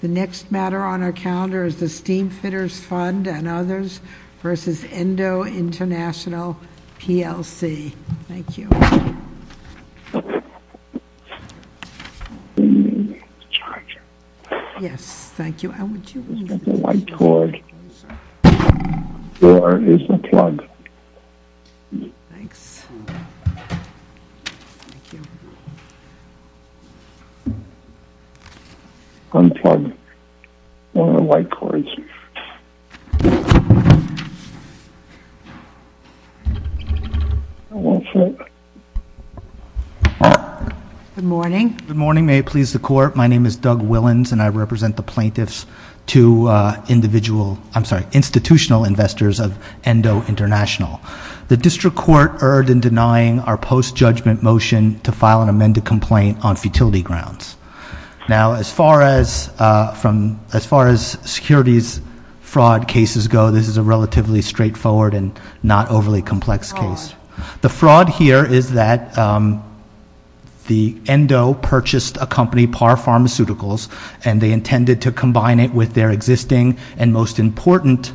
The next matter on our calendar is the Steamfitters Fund and Others v. Endo International, PLC. Thank you. Yes, thank you. Thanks. Thank you. One of the white cards. Good morning. Good morning. May it please the court, my name is Doug Willans and I represent the plaintiffs to individual, I'm sorry, institutional investors of Endo International. The district court erred in denying our post-judgment motion to file an amended complaint on futility grounds. Now, as far as securities fraud cases go, this is a relatively straightforward and not overly complex case. The fraud here is that the Endo purchased a company, Par Pharmaceuticals, and they intended to combine it with their existing and most important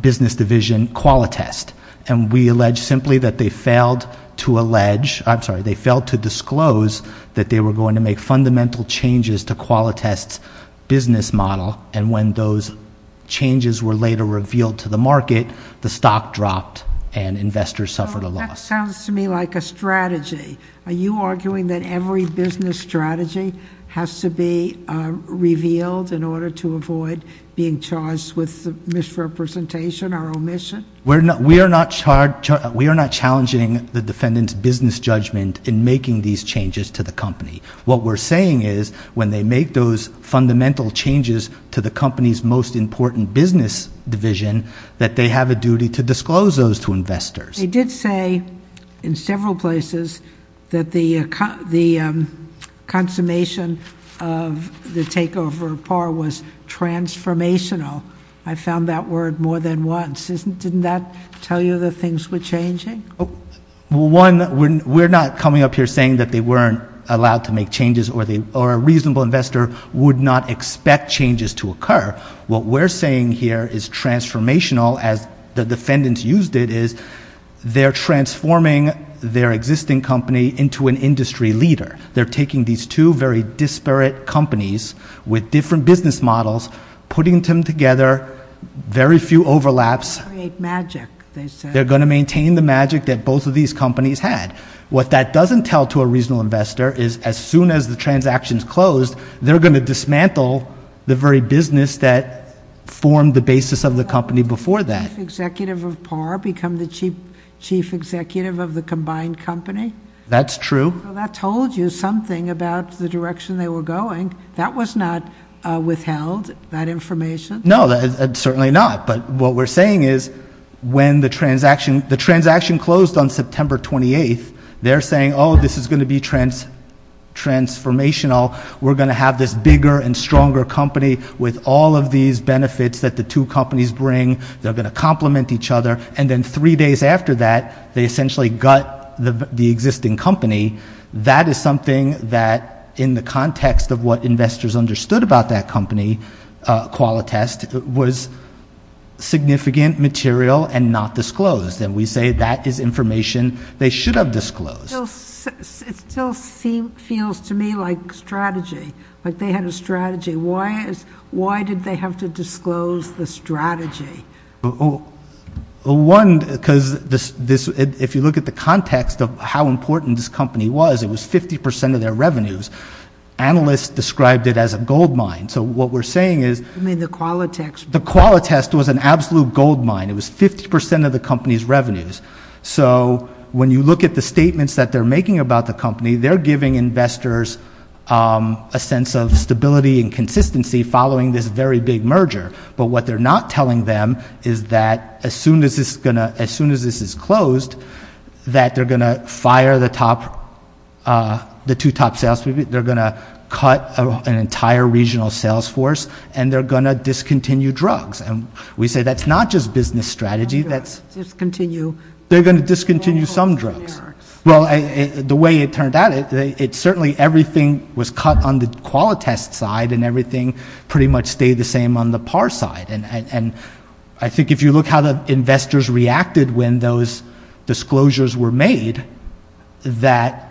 business division, Qualitest. And we allege simply that they failed to allege, I'm sorry, they failed to disclose that they were going to make fundamental changes to Qualitest's business model. And when those changes were later revealed to the market, the stock dropped and investors suffered a loss. That sounds to me like a strategy. Are you arguing that every business strategy has to be revealed in order to avoid being charged with misrepresentation or omission? We are not challenging the defendant's business judgment in making these changes to the company. What we're saying is when they make those fundamental changes to the company's most important business division, that they have a duty to disclose those to investors. They did say in several places that the consummation of the takeover of Par was transformational. I found that word more than once. Didn't that tell you that things were changing? One, we're not coming up here saying that they weren't allowed to make changes or a reasonable investor would not expect changes to occur. What we're saying here is transformational, as the defendants used it, is they're transforming their existing company into an industry leader. They're taking these two very disparate companies with different business models, putting them together, very few overlaps. Create magic, they said. They're going to maintain the magic that both of these companies had. What that doesn't tell to a reasonable investor is as soon as the transaction's closed, they're going to dismantle the very business that formed the basis of the company before that. Chief executive of Par become the chief executive of the combined company? That's true. That told you something about the direction they were going. That was not withheld, that information? No, certainly not. But what we're saying is when the transaction closed on September 28th, they're saying, oh, this is going to be transformational. We're going to have this bigger and stronger company with all of these benefits that the two companies bring. They're going to complement each other. And then three days after that, they essentially gut the existing company. That is something that in the context of what investors understood about that company, Qualitest, was significant material and not disclosed. And we say that is information they should have disclosed. It still feels to me like strategy, like they had a strategy. Why did they have to disclose the strategy? Well, one, because if you look at the context of how important this company was, it was 50% of their revenues. Analysts described it as a gold mine. So what we're saying is the Qualitest was an absolute gold mine. It was 50% of the company's revenues. So when you look at the statements that they're making about the company, they're giving investors a sense of stability and consistency following this very big merger. But what they're not telling them is that as soon as this is closed, that they're going to fire the two top salespeople, they're going to cut an entire regional sales force, and they're going to discontinue drugs. And we say that's not just business strategy. They're going to discontinue some drugs. Well, the way it turned out, certainly everything was cut on the Qualitest side, and everything pretty much stayed the same on the PAR side. And I think if you look how the investors reacted when those disclosures were made, that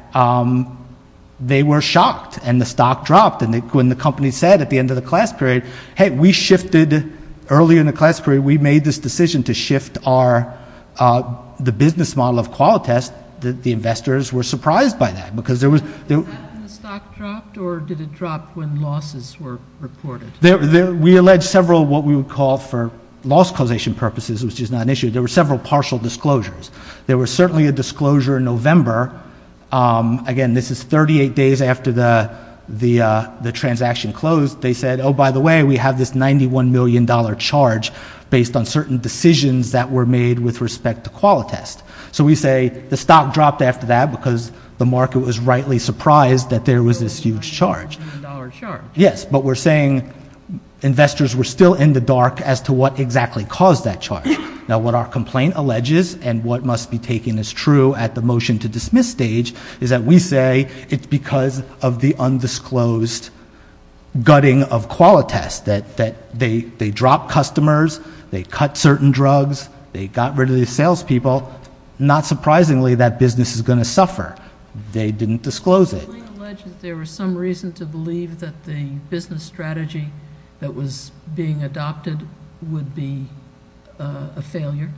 they were shocked and the stock dropped. And when the company said at the end of the class period, hey, we shifted early in the class period, we made this decision to shift the business model of Qualitest, the investors were surprised by that. Was that when the stock dropped, or did it drop when losses were reported? We alleged several what we would call for loss causation purposes, which is not an issue. There were several partial disclosures. There was certainly a disclosure in November. Again, this is 38 days after the transaction closed. They said, oh, by the way, we have this $91 million charge based on certain decisions that were made with respect to Qualitest. So we say the stock dropped after that because the market was rightly surprised that there was this huge charge. Yes, but we're saying investors were still in the dark as to what exactly caused that charge. Now, what our complaint alleges and what must be taken as true at the motion to dismiss stage is that we say it's because of the undisclosed gutting of Qualitest, that they dropped customers, they cut certain drugs, they got rid of the salespeople. Not surprisingly, that business is going to suffer. They didn't disclose it. Does the complaint allege that there was some reason to believe that the business strategy that was being adopted would be a failure?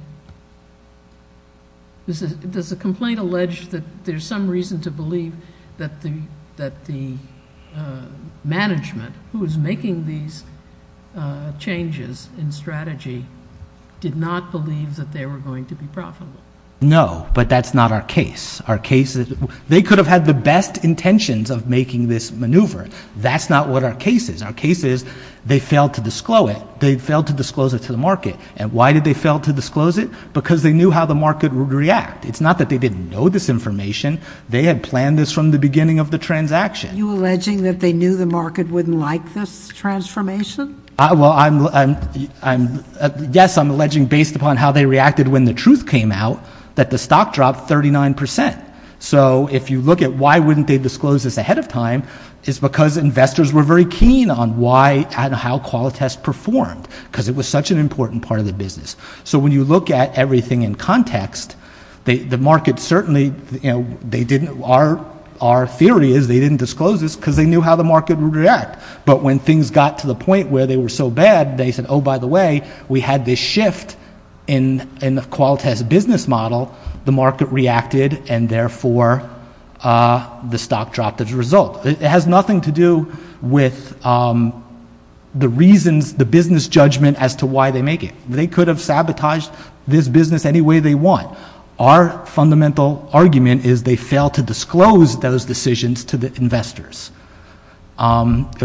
Does the complaint allege that there's some reason to believe that the management who is making these changes in strategy did not believe that they were going to be profitable? No, but that's not our case. They could have had the best intentions of making this maneuver. That's not what our case is. Our case is they failed to disclose it. They failed to disclose it to the market. And why did they fail to disclose it? Because they knew how the market would react. It's not that they didn't know this information. They had planned this from the beginning of the transaction. Are you alleging that they knew the market wouldn't like this transformation? Well, yes, I'm alleging based upon how they reacted when the truth came out that the stock dropped 39%. So if you look at why wouldn't they disclose this ahead of time, it's because investors were very keen on why and how Qualitas performed because it was such an important part of the business. So when you look at everything in context, the market certainly, you know, they didn't. Our theory is they didn't disclose this because they knew how the market would react. But when things got to the point where they were so bad, they said, oh, by the way, we had this shift in the Qualitas business model. The market reacted, and therefore the stock dropped as a result. It has nothing to do with the reasons, the business judgment as to why they make it. They could have sabotaged this business any way they want. Our fundamental argument is they failed to disclose those decisions to the investors.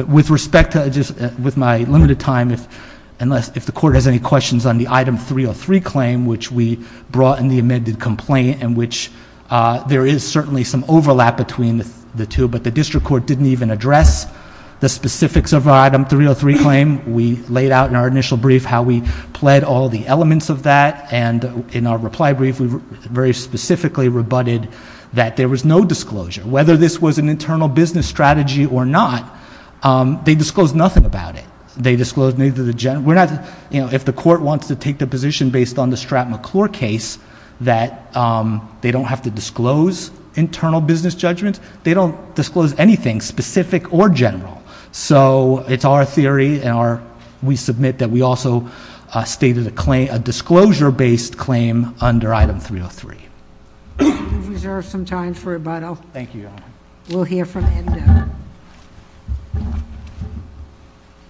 With respect to just with my limited time, if the court has any questions on the Item 303 claim, which we brought in the amended complaint in which there is certainly some overlap between the two, but the district court didn't even address the specifics of Item 303 claim. We laid out in our initial brief how we pled all the elements of that, and in our reply brief, we very specifically rebutted that there was no disclosure. Whether this was an internal business strategy or not, they disclosed nothing about it. They disclosed neither the general. If the court wants to take the position based on the Stratt McClure case that they don't have to disclose internal business judgments, they don't disclose anything specific or general. So it's our theory, and we submit that we also stated a disclosure-based claim under Item 303. You've reserved some time for rebuttal. Thank you, Your Honor. We'll hear from Endo.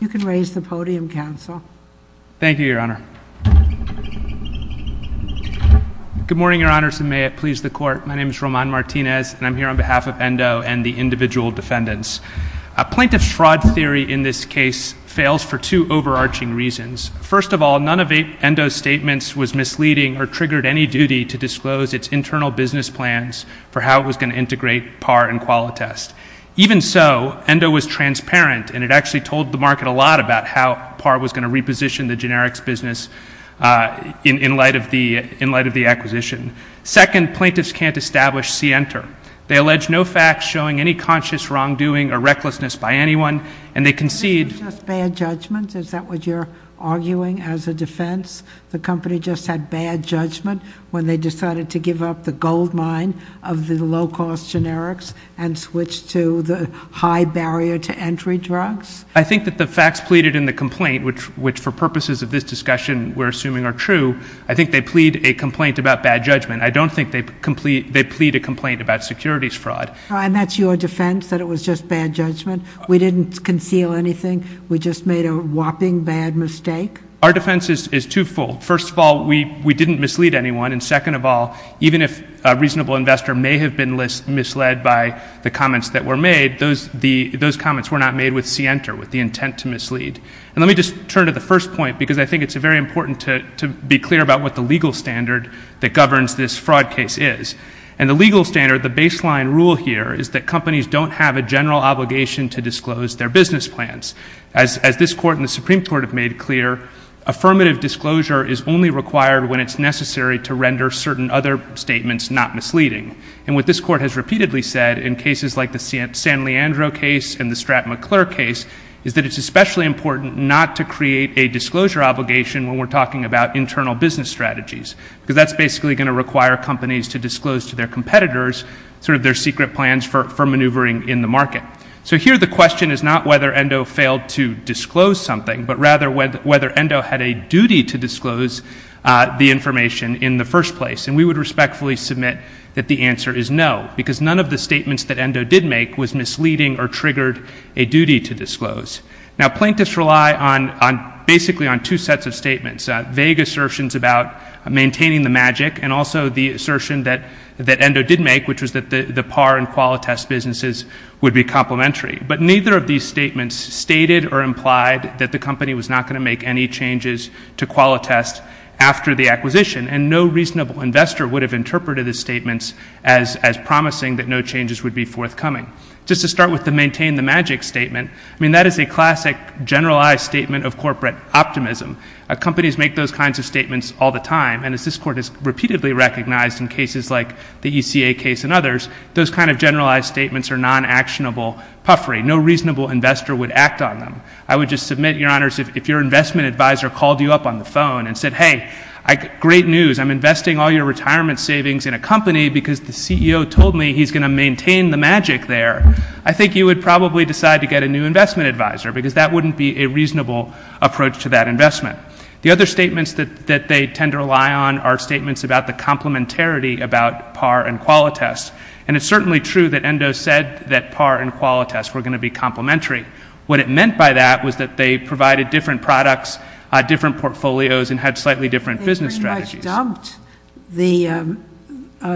You can raise the podium, counsel. Thank you, Your Honor. Good morning, Your Honors, and may it please the court. My name is Roman Martinez, and I'm here on behalf of Endo and the individual defendants. A plaintiff's fraud theory in this case fails for two overarching reasons. First of all, none of Endo's statements was misleading or triggered any duty to disclose its internal business plans for how it was going to integrate PAR and Qualitas. Even so, Endo was transparent, and it actually told the market a lot about how PAR was going to reposition the generics business in light of the acquisition. Second, plaintiffs can't establish scienter. They allege no facts showing any conscious wrongdoing or recklessness by anyone, and they concede— Is that what you're arguing as a defense? The company just had bad judgment when they decided to give up the gold mine of the low-cost generics and switch to the high-barrier-to-entry drugs? I think that the facts pleaded in the complaint, which for purposes of this discussion we're assuming are true, I think they plead a complaint about bad judgment. I don't think they plead a complaint about securities fraud. And that's your defense, that it was just bad judgment? We didn't conceal anything? We just made a whopping bad mistake? Our defense is twofold. First of all, we didn't mislead anyone. And second of all, even if a reasonable investor may have been misled by the comments that were made, those comments were not made with scienter, with the intent to mislead. And let me just turn to the first point, because I think it's very important to be clear about what the legal standard that governs this fraud case is. And the legal standard, the baseline rule here, is that companies don't have a general obligation to disclose their business plans. As this Court and the Supreme Court have made clear, affirmative disclosure is only required when it's necessary to render certain other statements not misleading. And what this Court has repeatedly said in cases like the San Leandro case and the Stratton McClure case is that it's especially important not to create a disclosure obligation when we're talking about internal business strategies, because that's basically going to require companies to disclose to their competitors sort of their secret plans for maneuvering in the market. So here the question is not whether Endo failed to disclose something, but rather whether Endo had a duty to disclose the information in the first place. And we would respectfully submit that the answer is no, because none of the statements that Endo did make was misleading or triggered a duty to disclose. Now, plaintiffs rely basically on two sets of statements, vague assertions about maintaining the magic and also the assertion that Endo did make, which was that the PAR and QualiTest businesses would be complementary. But neither of these statements stated or implied that the company was not going to make any changes to QualiTest after the acquisition, and no reasonable investor would have interpreted the statements as promising that no changes would be forthcoming. Just to start with the maintain the magic statement, I mean, that is a classic generalized statement of corporate optimism. Companies make those kinds of statements all the time, and as this Court has repeatedly recognized in cases like the ECA case and others, those kind of generalized statements are non-actionable puffery. No reasonable investor would act on them. I would just submit, Your Honors, if your investment advisor called you up on the phone and said, hey, great news, I'm investing all your retirement savings in a company because the CEO told me he's going to maintain the magic there, I think you would probably decide to get a new investment advisor because that wouldn't be a reasonable approach to that investment. The other statements that they tend to rely on are statements about the complementarity about PAR and QualiTest. And it's certainly true that Endo said that PAR and QualiTest were going to be complementary. What it meant by that was that they provided different products, different portfolios, and had slightly different business strategies. They pretty much dumped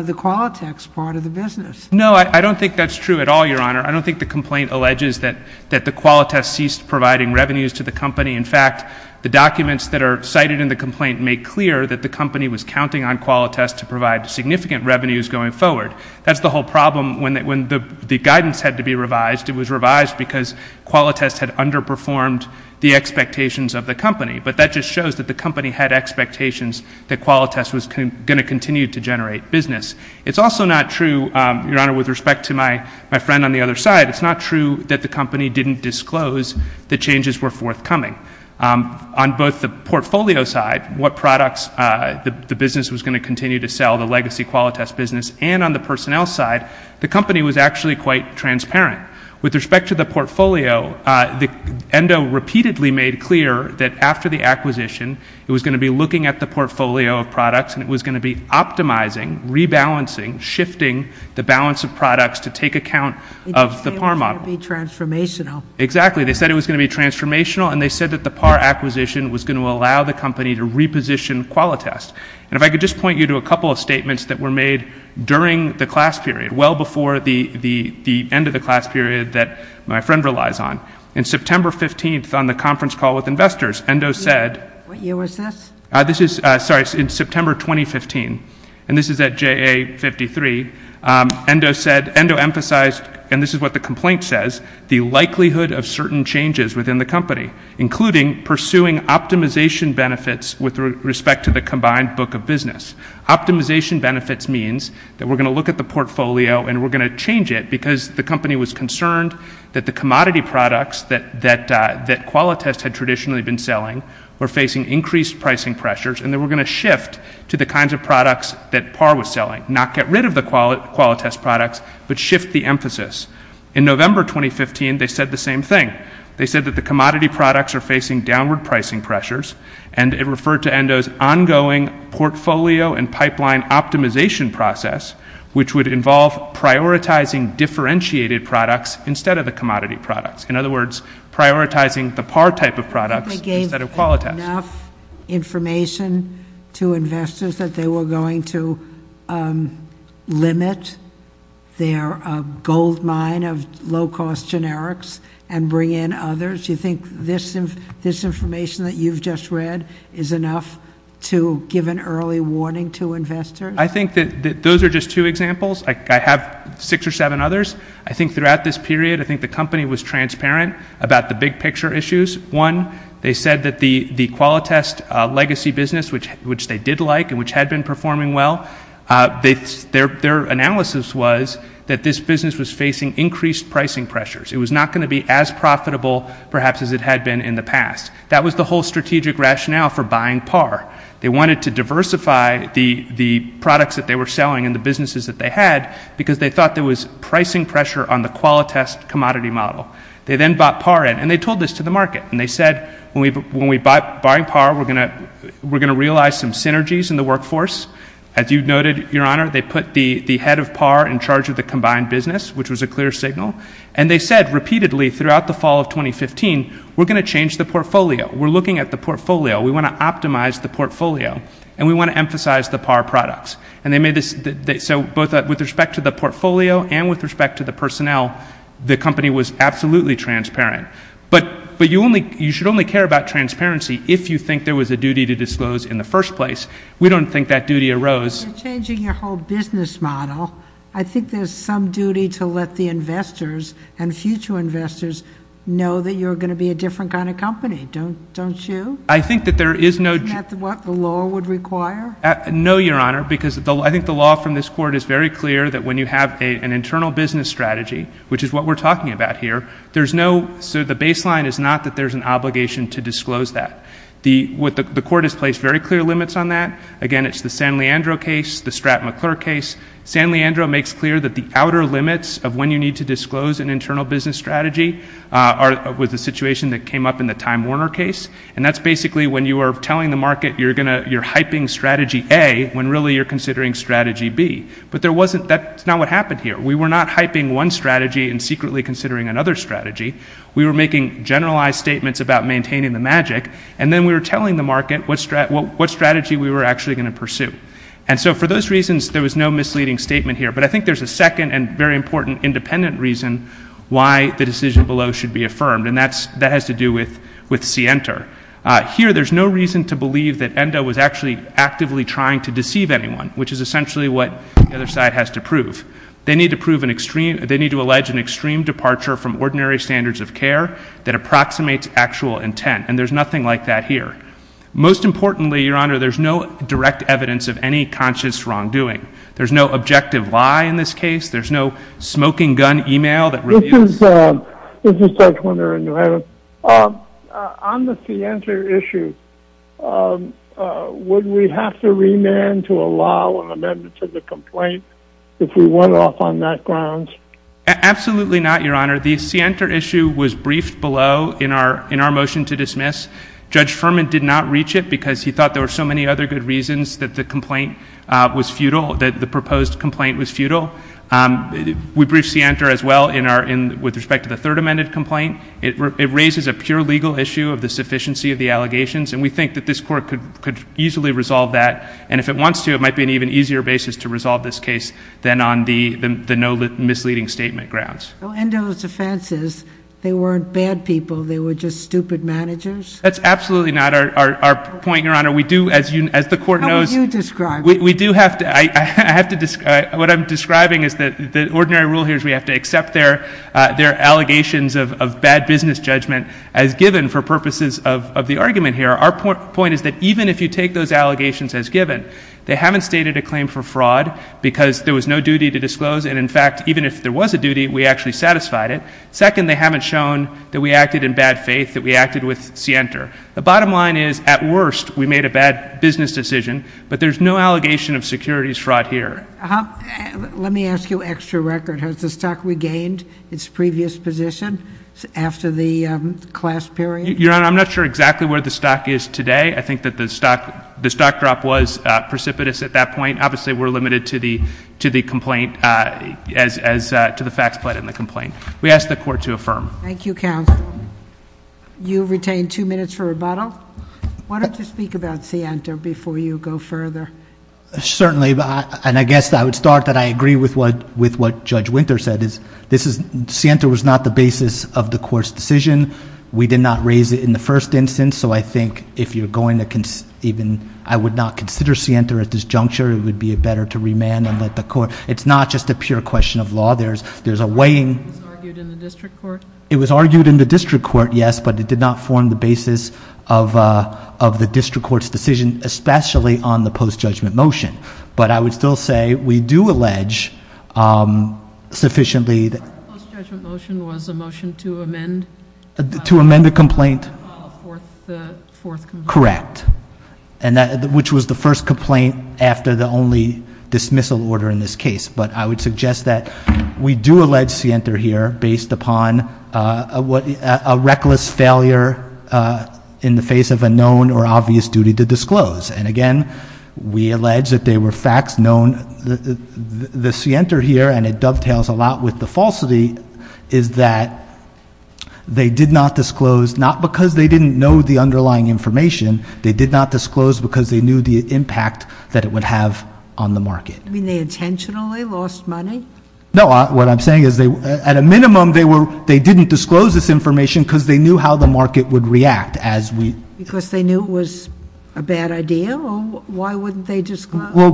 the QualiTest part of the business. No, I don't think that's true at all, Your Honor. I don't think the complaint alleges that the QualiTest ceased providing revenues to the company. In fact, the documents that are cited in the complaint make clear that the company was counting on QualiTest to provide significant revenues going forward. That's the whole problem when the guidance had to be revised. It was revised because QualiTest had underperformed the expectations of the company. But that just shows that the company had expectations that QualiTest was going to continue to generate business. It's also not true, Your Honor, with respect to my friend on the other side, it's not true that the company didn't disclose the changes were forthcoming. On both the portfolio side, what products the business was going to continue to sell, the legacy QualiTest business, and on the personnel side, the company was actually quite transparent. With respect to the portfolio, Endo repeatedly made clear that after the acquisition, it was going to be looking at the portfolio of products and it was going to be optimizing, rebalancing, shifting the balance of products to take account of the PAR model. They said it was going to be transformational. Exactly. They said it was going to be transformational, and they said that the PAR acquisition was going to allow the company to reposition QualiTest. And if I could just point you to a couple of statements that were made during the class period, well before the end of the class period that my friend relies on. In September 15th on the conference call with investors, Endo said. What year was this? This is, sorry, in September 2015, and this is at JA53. Endo said, Endo emphasized, and this is what the complaint says, the likelihood of certain changes within the company, including pursuing optimization benefits with respect to the combined book of business. Optimization benefits means that we're going to look at the portfolio and we're going to change it because the company was concerned that the commodity products that QualiTest had traditionally been selling were facing increased pricing pressures and they were going to shift to the kinds of products that PAR was selling, not get rid of the QualiTest products, but shift the emphasis. In November 2015, they said the same thing. They said that the commodity products are facing downward pricing pressures, and it referred to Endo's ongoing portfolio and pipeline optimization process, which would involve prioritizing differentiated products instead of the commodity products. In other words, prioritizing the PAR type of products instead of QualiTest. Did they give enough information to investors that they were going to limit their gold mine of low-cost generics and bring in others? Do you think this information that you've just read is enough to give an early warning to investors? I think that those are just two examples. I have six or seven others. I think throughout this period, I think the company was transparent about the big picture issues. One, they said that the QualiTest legacy business, which they did like and which had been performing well, their analysis was that this business was facing increased pricing pressures. It was not going to be as profitable, perhaps, as it had been in the past. That was the whole strategic rationale for buying PAR. They wanted to diversify the products that they were selling and the businesses that they had because they thought there was pricing pressure on the QualiTest commodity model. They then bought PAR in, and they told this to the market. And they said, when we buy PAR, we're going to realize some synergies in the workforce. As you noted, Your Honor, they put the head of PAR in charge of the combined business, which was a clear signal. And they said repeatedly throughout the fall of 2015, we're going to change the portfolio. We're looking at the portfolio. We want to optimize the portfolio, and we want to emphasize the PAR products. So with respect to the portfolio and with respect to the personnel, the company was absolutely transparent. But you should only care about transparency if you think there was a duty to disclose in the first place. We don't think that duty arose. You're changing your whole business model. I think there's some duty to let the investors and future investors know that you're going to be a different kind of company, don't you? I think that there is no— Isn't that what the law would require? No, Your Honor, because I think the law from this court is very clear that when you have an internal business strategy, which is what we're talking about here, there's no—so the baseline is not that there's an obligation to disclose that. The court has placed very clear limits on that. Again, it's the San Leandro case, the Stratton McClure case. San Leandro makes clear that the outer limits of when you need to disclose an internal business strategy was the situation that came up in the Time Warner case. And that's basically when you are telling the market you're hyping strategy A when really you're considering strategy B. But that's not what happened here. We were not hyping one strategy and secretly considering another strategy. We were making generalized statements about maintaining the magic, and then we were telling the market what strategy we were actually going to pursue. And so for those reasons, there was no misleading statement here. But I think there's a second and very important independent reason why the decision below should be affirmed, and that has to do with Sienta. Here, there's no reason to believe that Endo was actually actively trying to deceive anyone, which is essentially what the other side has to prove. They need to prove an extreme—they need to allege an extreme departure from ordinary standards of care that approximates actual intent, and there's nothing like that here. Most importantly, Your Honor, there's no direct evidence of any conscious wrongdoing. There's no objective lie in this case. There's no smoking gun email that reveals— This is Judge Winter in New Haven. On the Sienta issue, would we have to remand to allow an amendment to the complaint if we went off on that grounds? Absolutely not, Your Honor. The Sienta issue was briefed below in our motion to dismiss. Judge Furman did not reach it because he thought there were so many other good reasons that the complaint was futile, that the proposed complaint was futile. We briefed Sienta as well in our—with respect to the third amended complaint. It raises a pure legal issue of the sufficiency of the allegations, and we think that this Court could easily resolve that, and if it wants to, it might be an even easier basis to resolve this case than on the no misleading statement grounds. Well, Endo's defense is they weren't bad people. They were just stupid managers. That's absolutely not our point, Your Honor. We do, as the Court knows— How would you describe it? We do have to—what I'm describing is that the ordinary rule here is we have to accept their allegations of bad business judgment as given for purposes of the argument here. Our point is that even if you take those allegations as given, they haven't stated a claim for fraud because there was no duty to disclose, and in fact, even if there was a duty, we actually satisfied it. Second, they haven't shown that we acted in bad faith, that we acted with Sienta. The bottom line is, at worst, we made a bad business decision, but there's no allegation of securities fraud here. Let me ask you extra record. Has the stock regained its previous position after the class period? Your Honor, I'm not sure exactly where the stock is today. I think that the stock drop was precipitous at that point. Obviously, we're limited to the complaint as—to the facts put in the complaint. We ask the Court to affirm. Thank you, Counsel. You've retained two minutes for rebuttal. Why don't you speak about Sienta before you go further? Certainly, and I guess I would start that I agree with what Judge Winter said. Sienta was not the basis of the Court's decision. We did not raise it in the first instance, so I think if you're going to even—I would not consider Sienta at this juncture. It would be better to remand and let the Court—it's not just a pure question of law. There's a weighing— It was argued in the district court? It was argued in the district court, yes, but it did not form the basis of the district court's decision, especially on the post-judgment motion. But I would still say we do allege sufficiently— The post-judgment motion was a motion to amend— To amend the complaint? —the fourth complaint. Correct, which was the first complaint after the only dismissal order in this case. But I would suggest that we do allege Sienta here based upon a reckless failure in the face of a known or obvious duty to disclose. And again, we allege that they were facts known. The Sienta here, and it dovetails a lot with the falsity, is that they did not disclose, not because they didn't know the underlying information. They did not disclose because they knew the impact that it would have on the market. You mean they intentionally lost money? No. What I'm saying is at a minimum they didn't disclose this information because they knew how the market would react as we— Because they knew it was a bad idea? Why wouldn't they disclose? Well,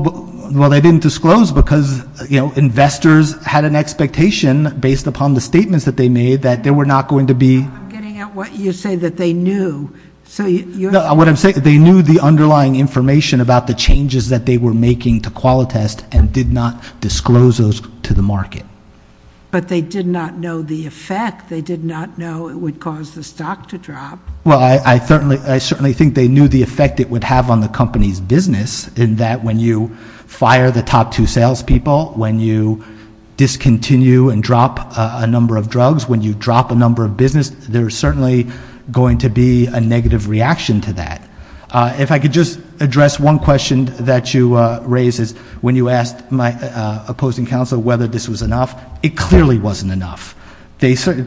they didn't disclose because, you know, investors had an expectation based upon the statements that they made that there were not going to be— I'm getting at what you say, that they knew. What I'm saying is they knew the underlying information about the changes that they were making to Qualitest and did not disclose those to the market. But they did not know the effect. They did not know it would cause the stock to drop. Well, I certainly think they knew the effect it would have on the company's business in that when you fire the top two salespeople, when you discontinue and drop a number of drugs, when you drop a number of business, there is certainly going to be a negative reaction to that. If I could just address one question that you raised is when you asked my opposing counsel whether this was enough, it clearly wasn't enough.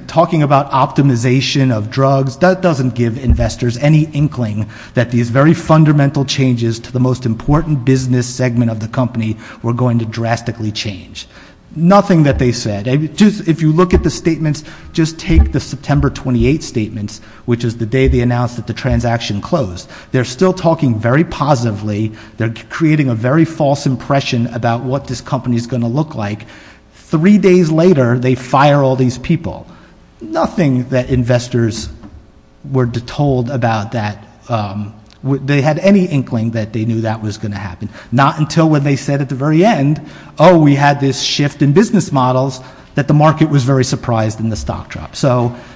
Talking about optimization of drugs, that doesn't give investors any inkling that these very fundamental changes to the most important business segment of the company were going to drastically change. Nothing that they said. If you look at the statements, just take the September 28 statements, which is the day they announced that the transaction closed. They're still talking very positively. They're creating a very false impression about what this company is going to look like. Three days later, they fire all these people. Nothing that investors were told about that. They had any inkling that they knew that was going to happen. Not until when they said at the very end, oh, we had this shift in business models, that the market was very surprised and the stock dropped.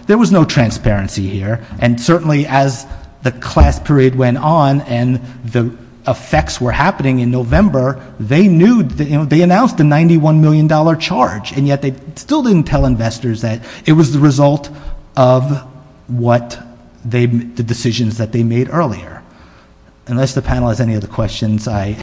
There was no transparency here. Certainly, as the class parade went on and the effects were happening in November, they announced the $91 million charge, and yet they still didn't tell investors that it was the result of the decisions that they made earlier. Unless the panel has any other questions, I—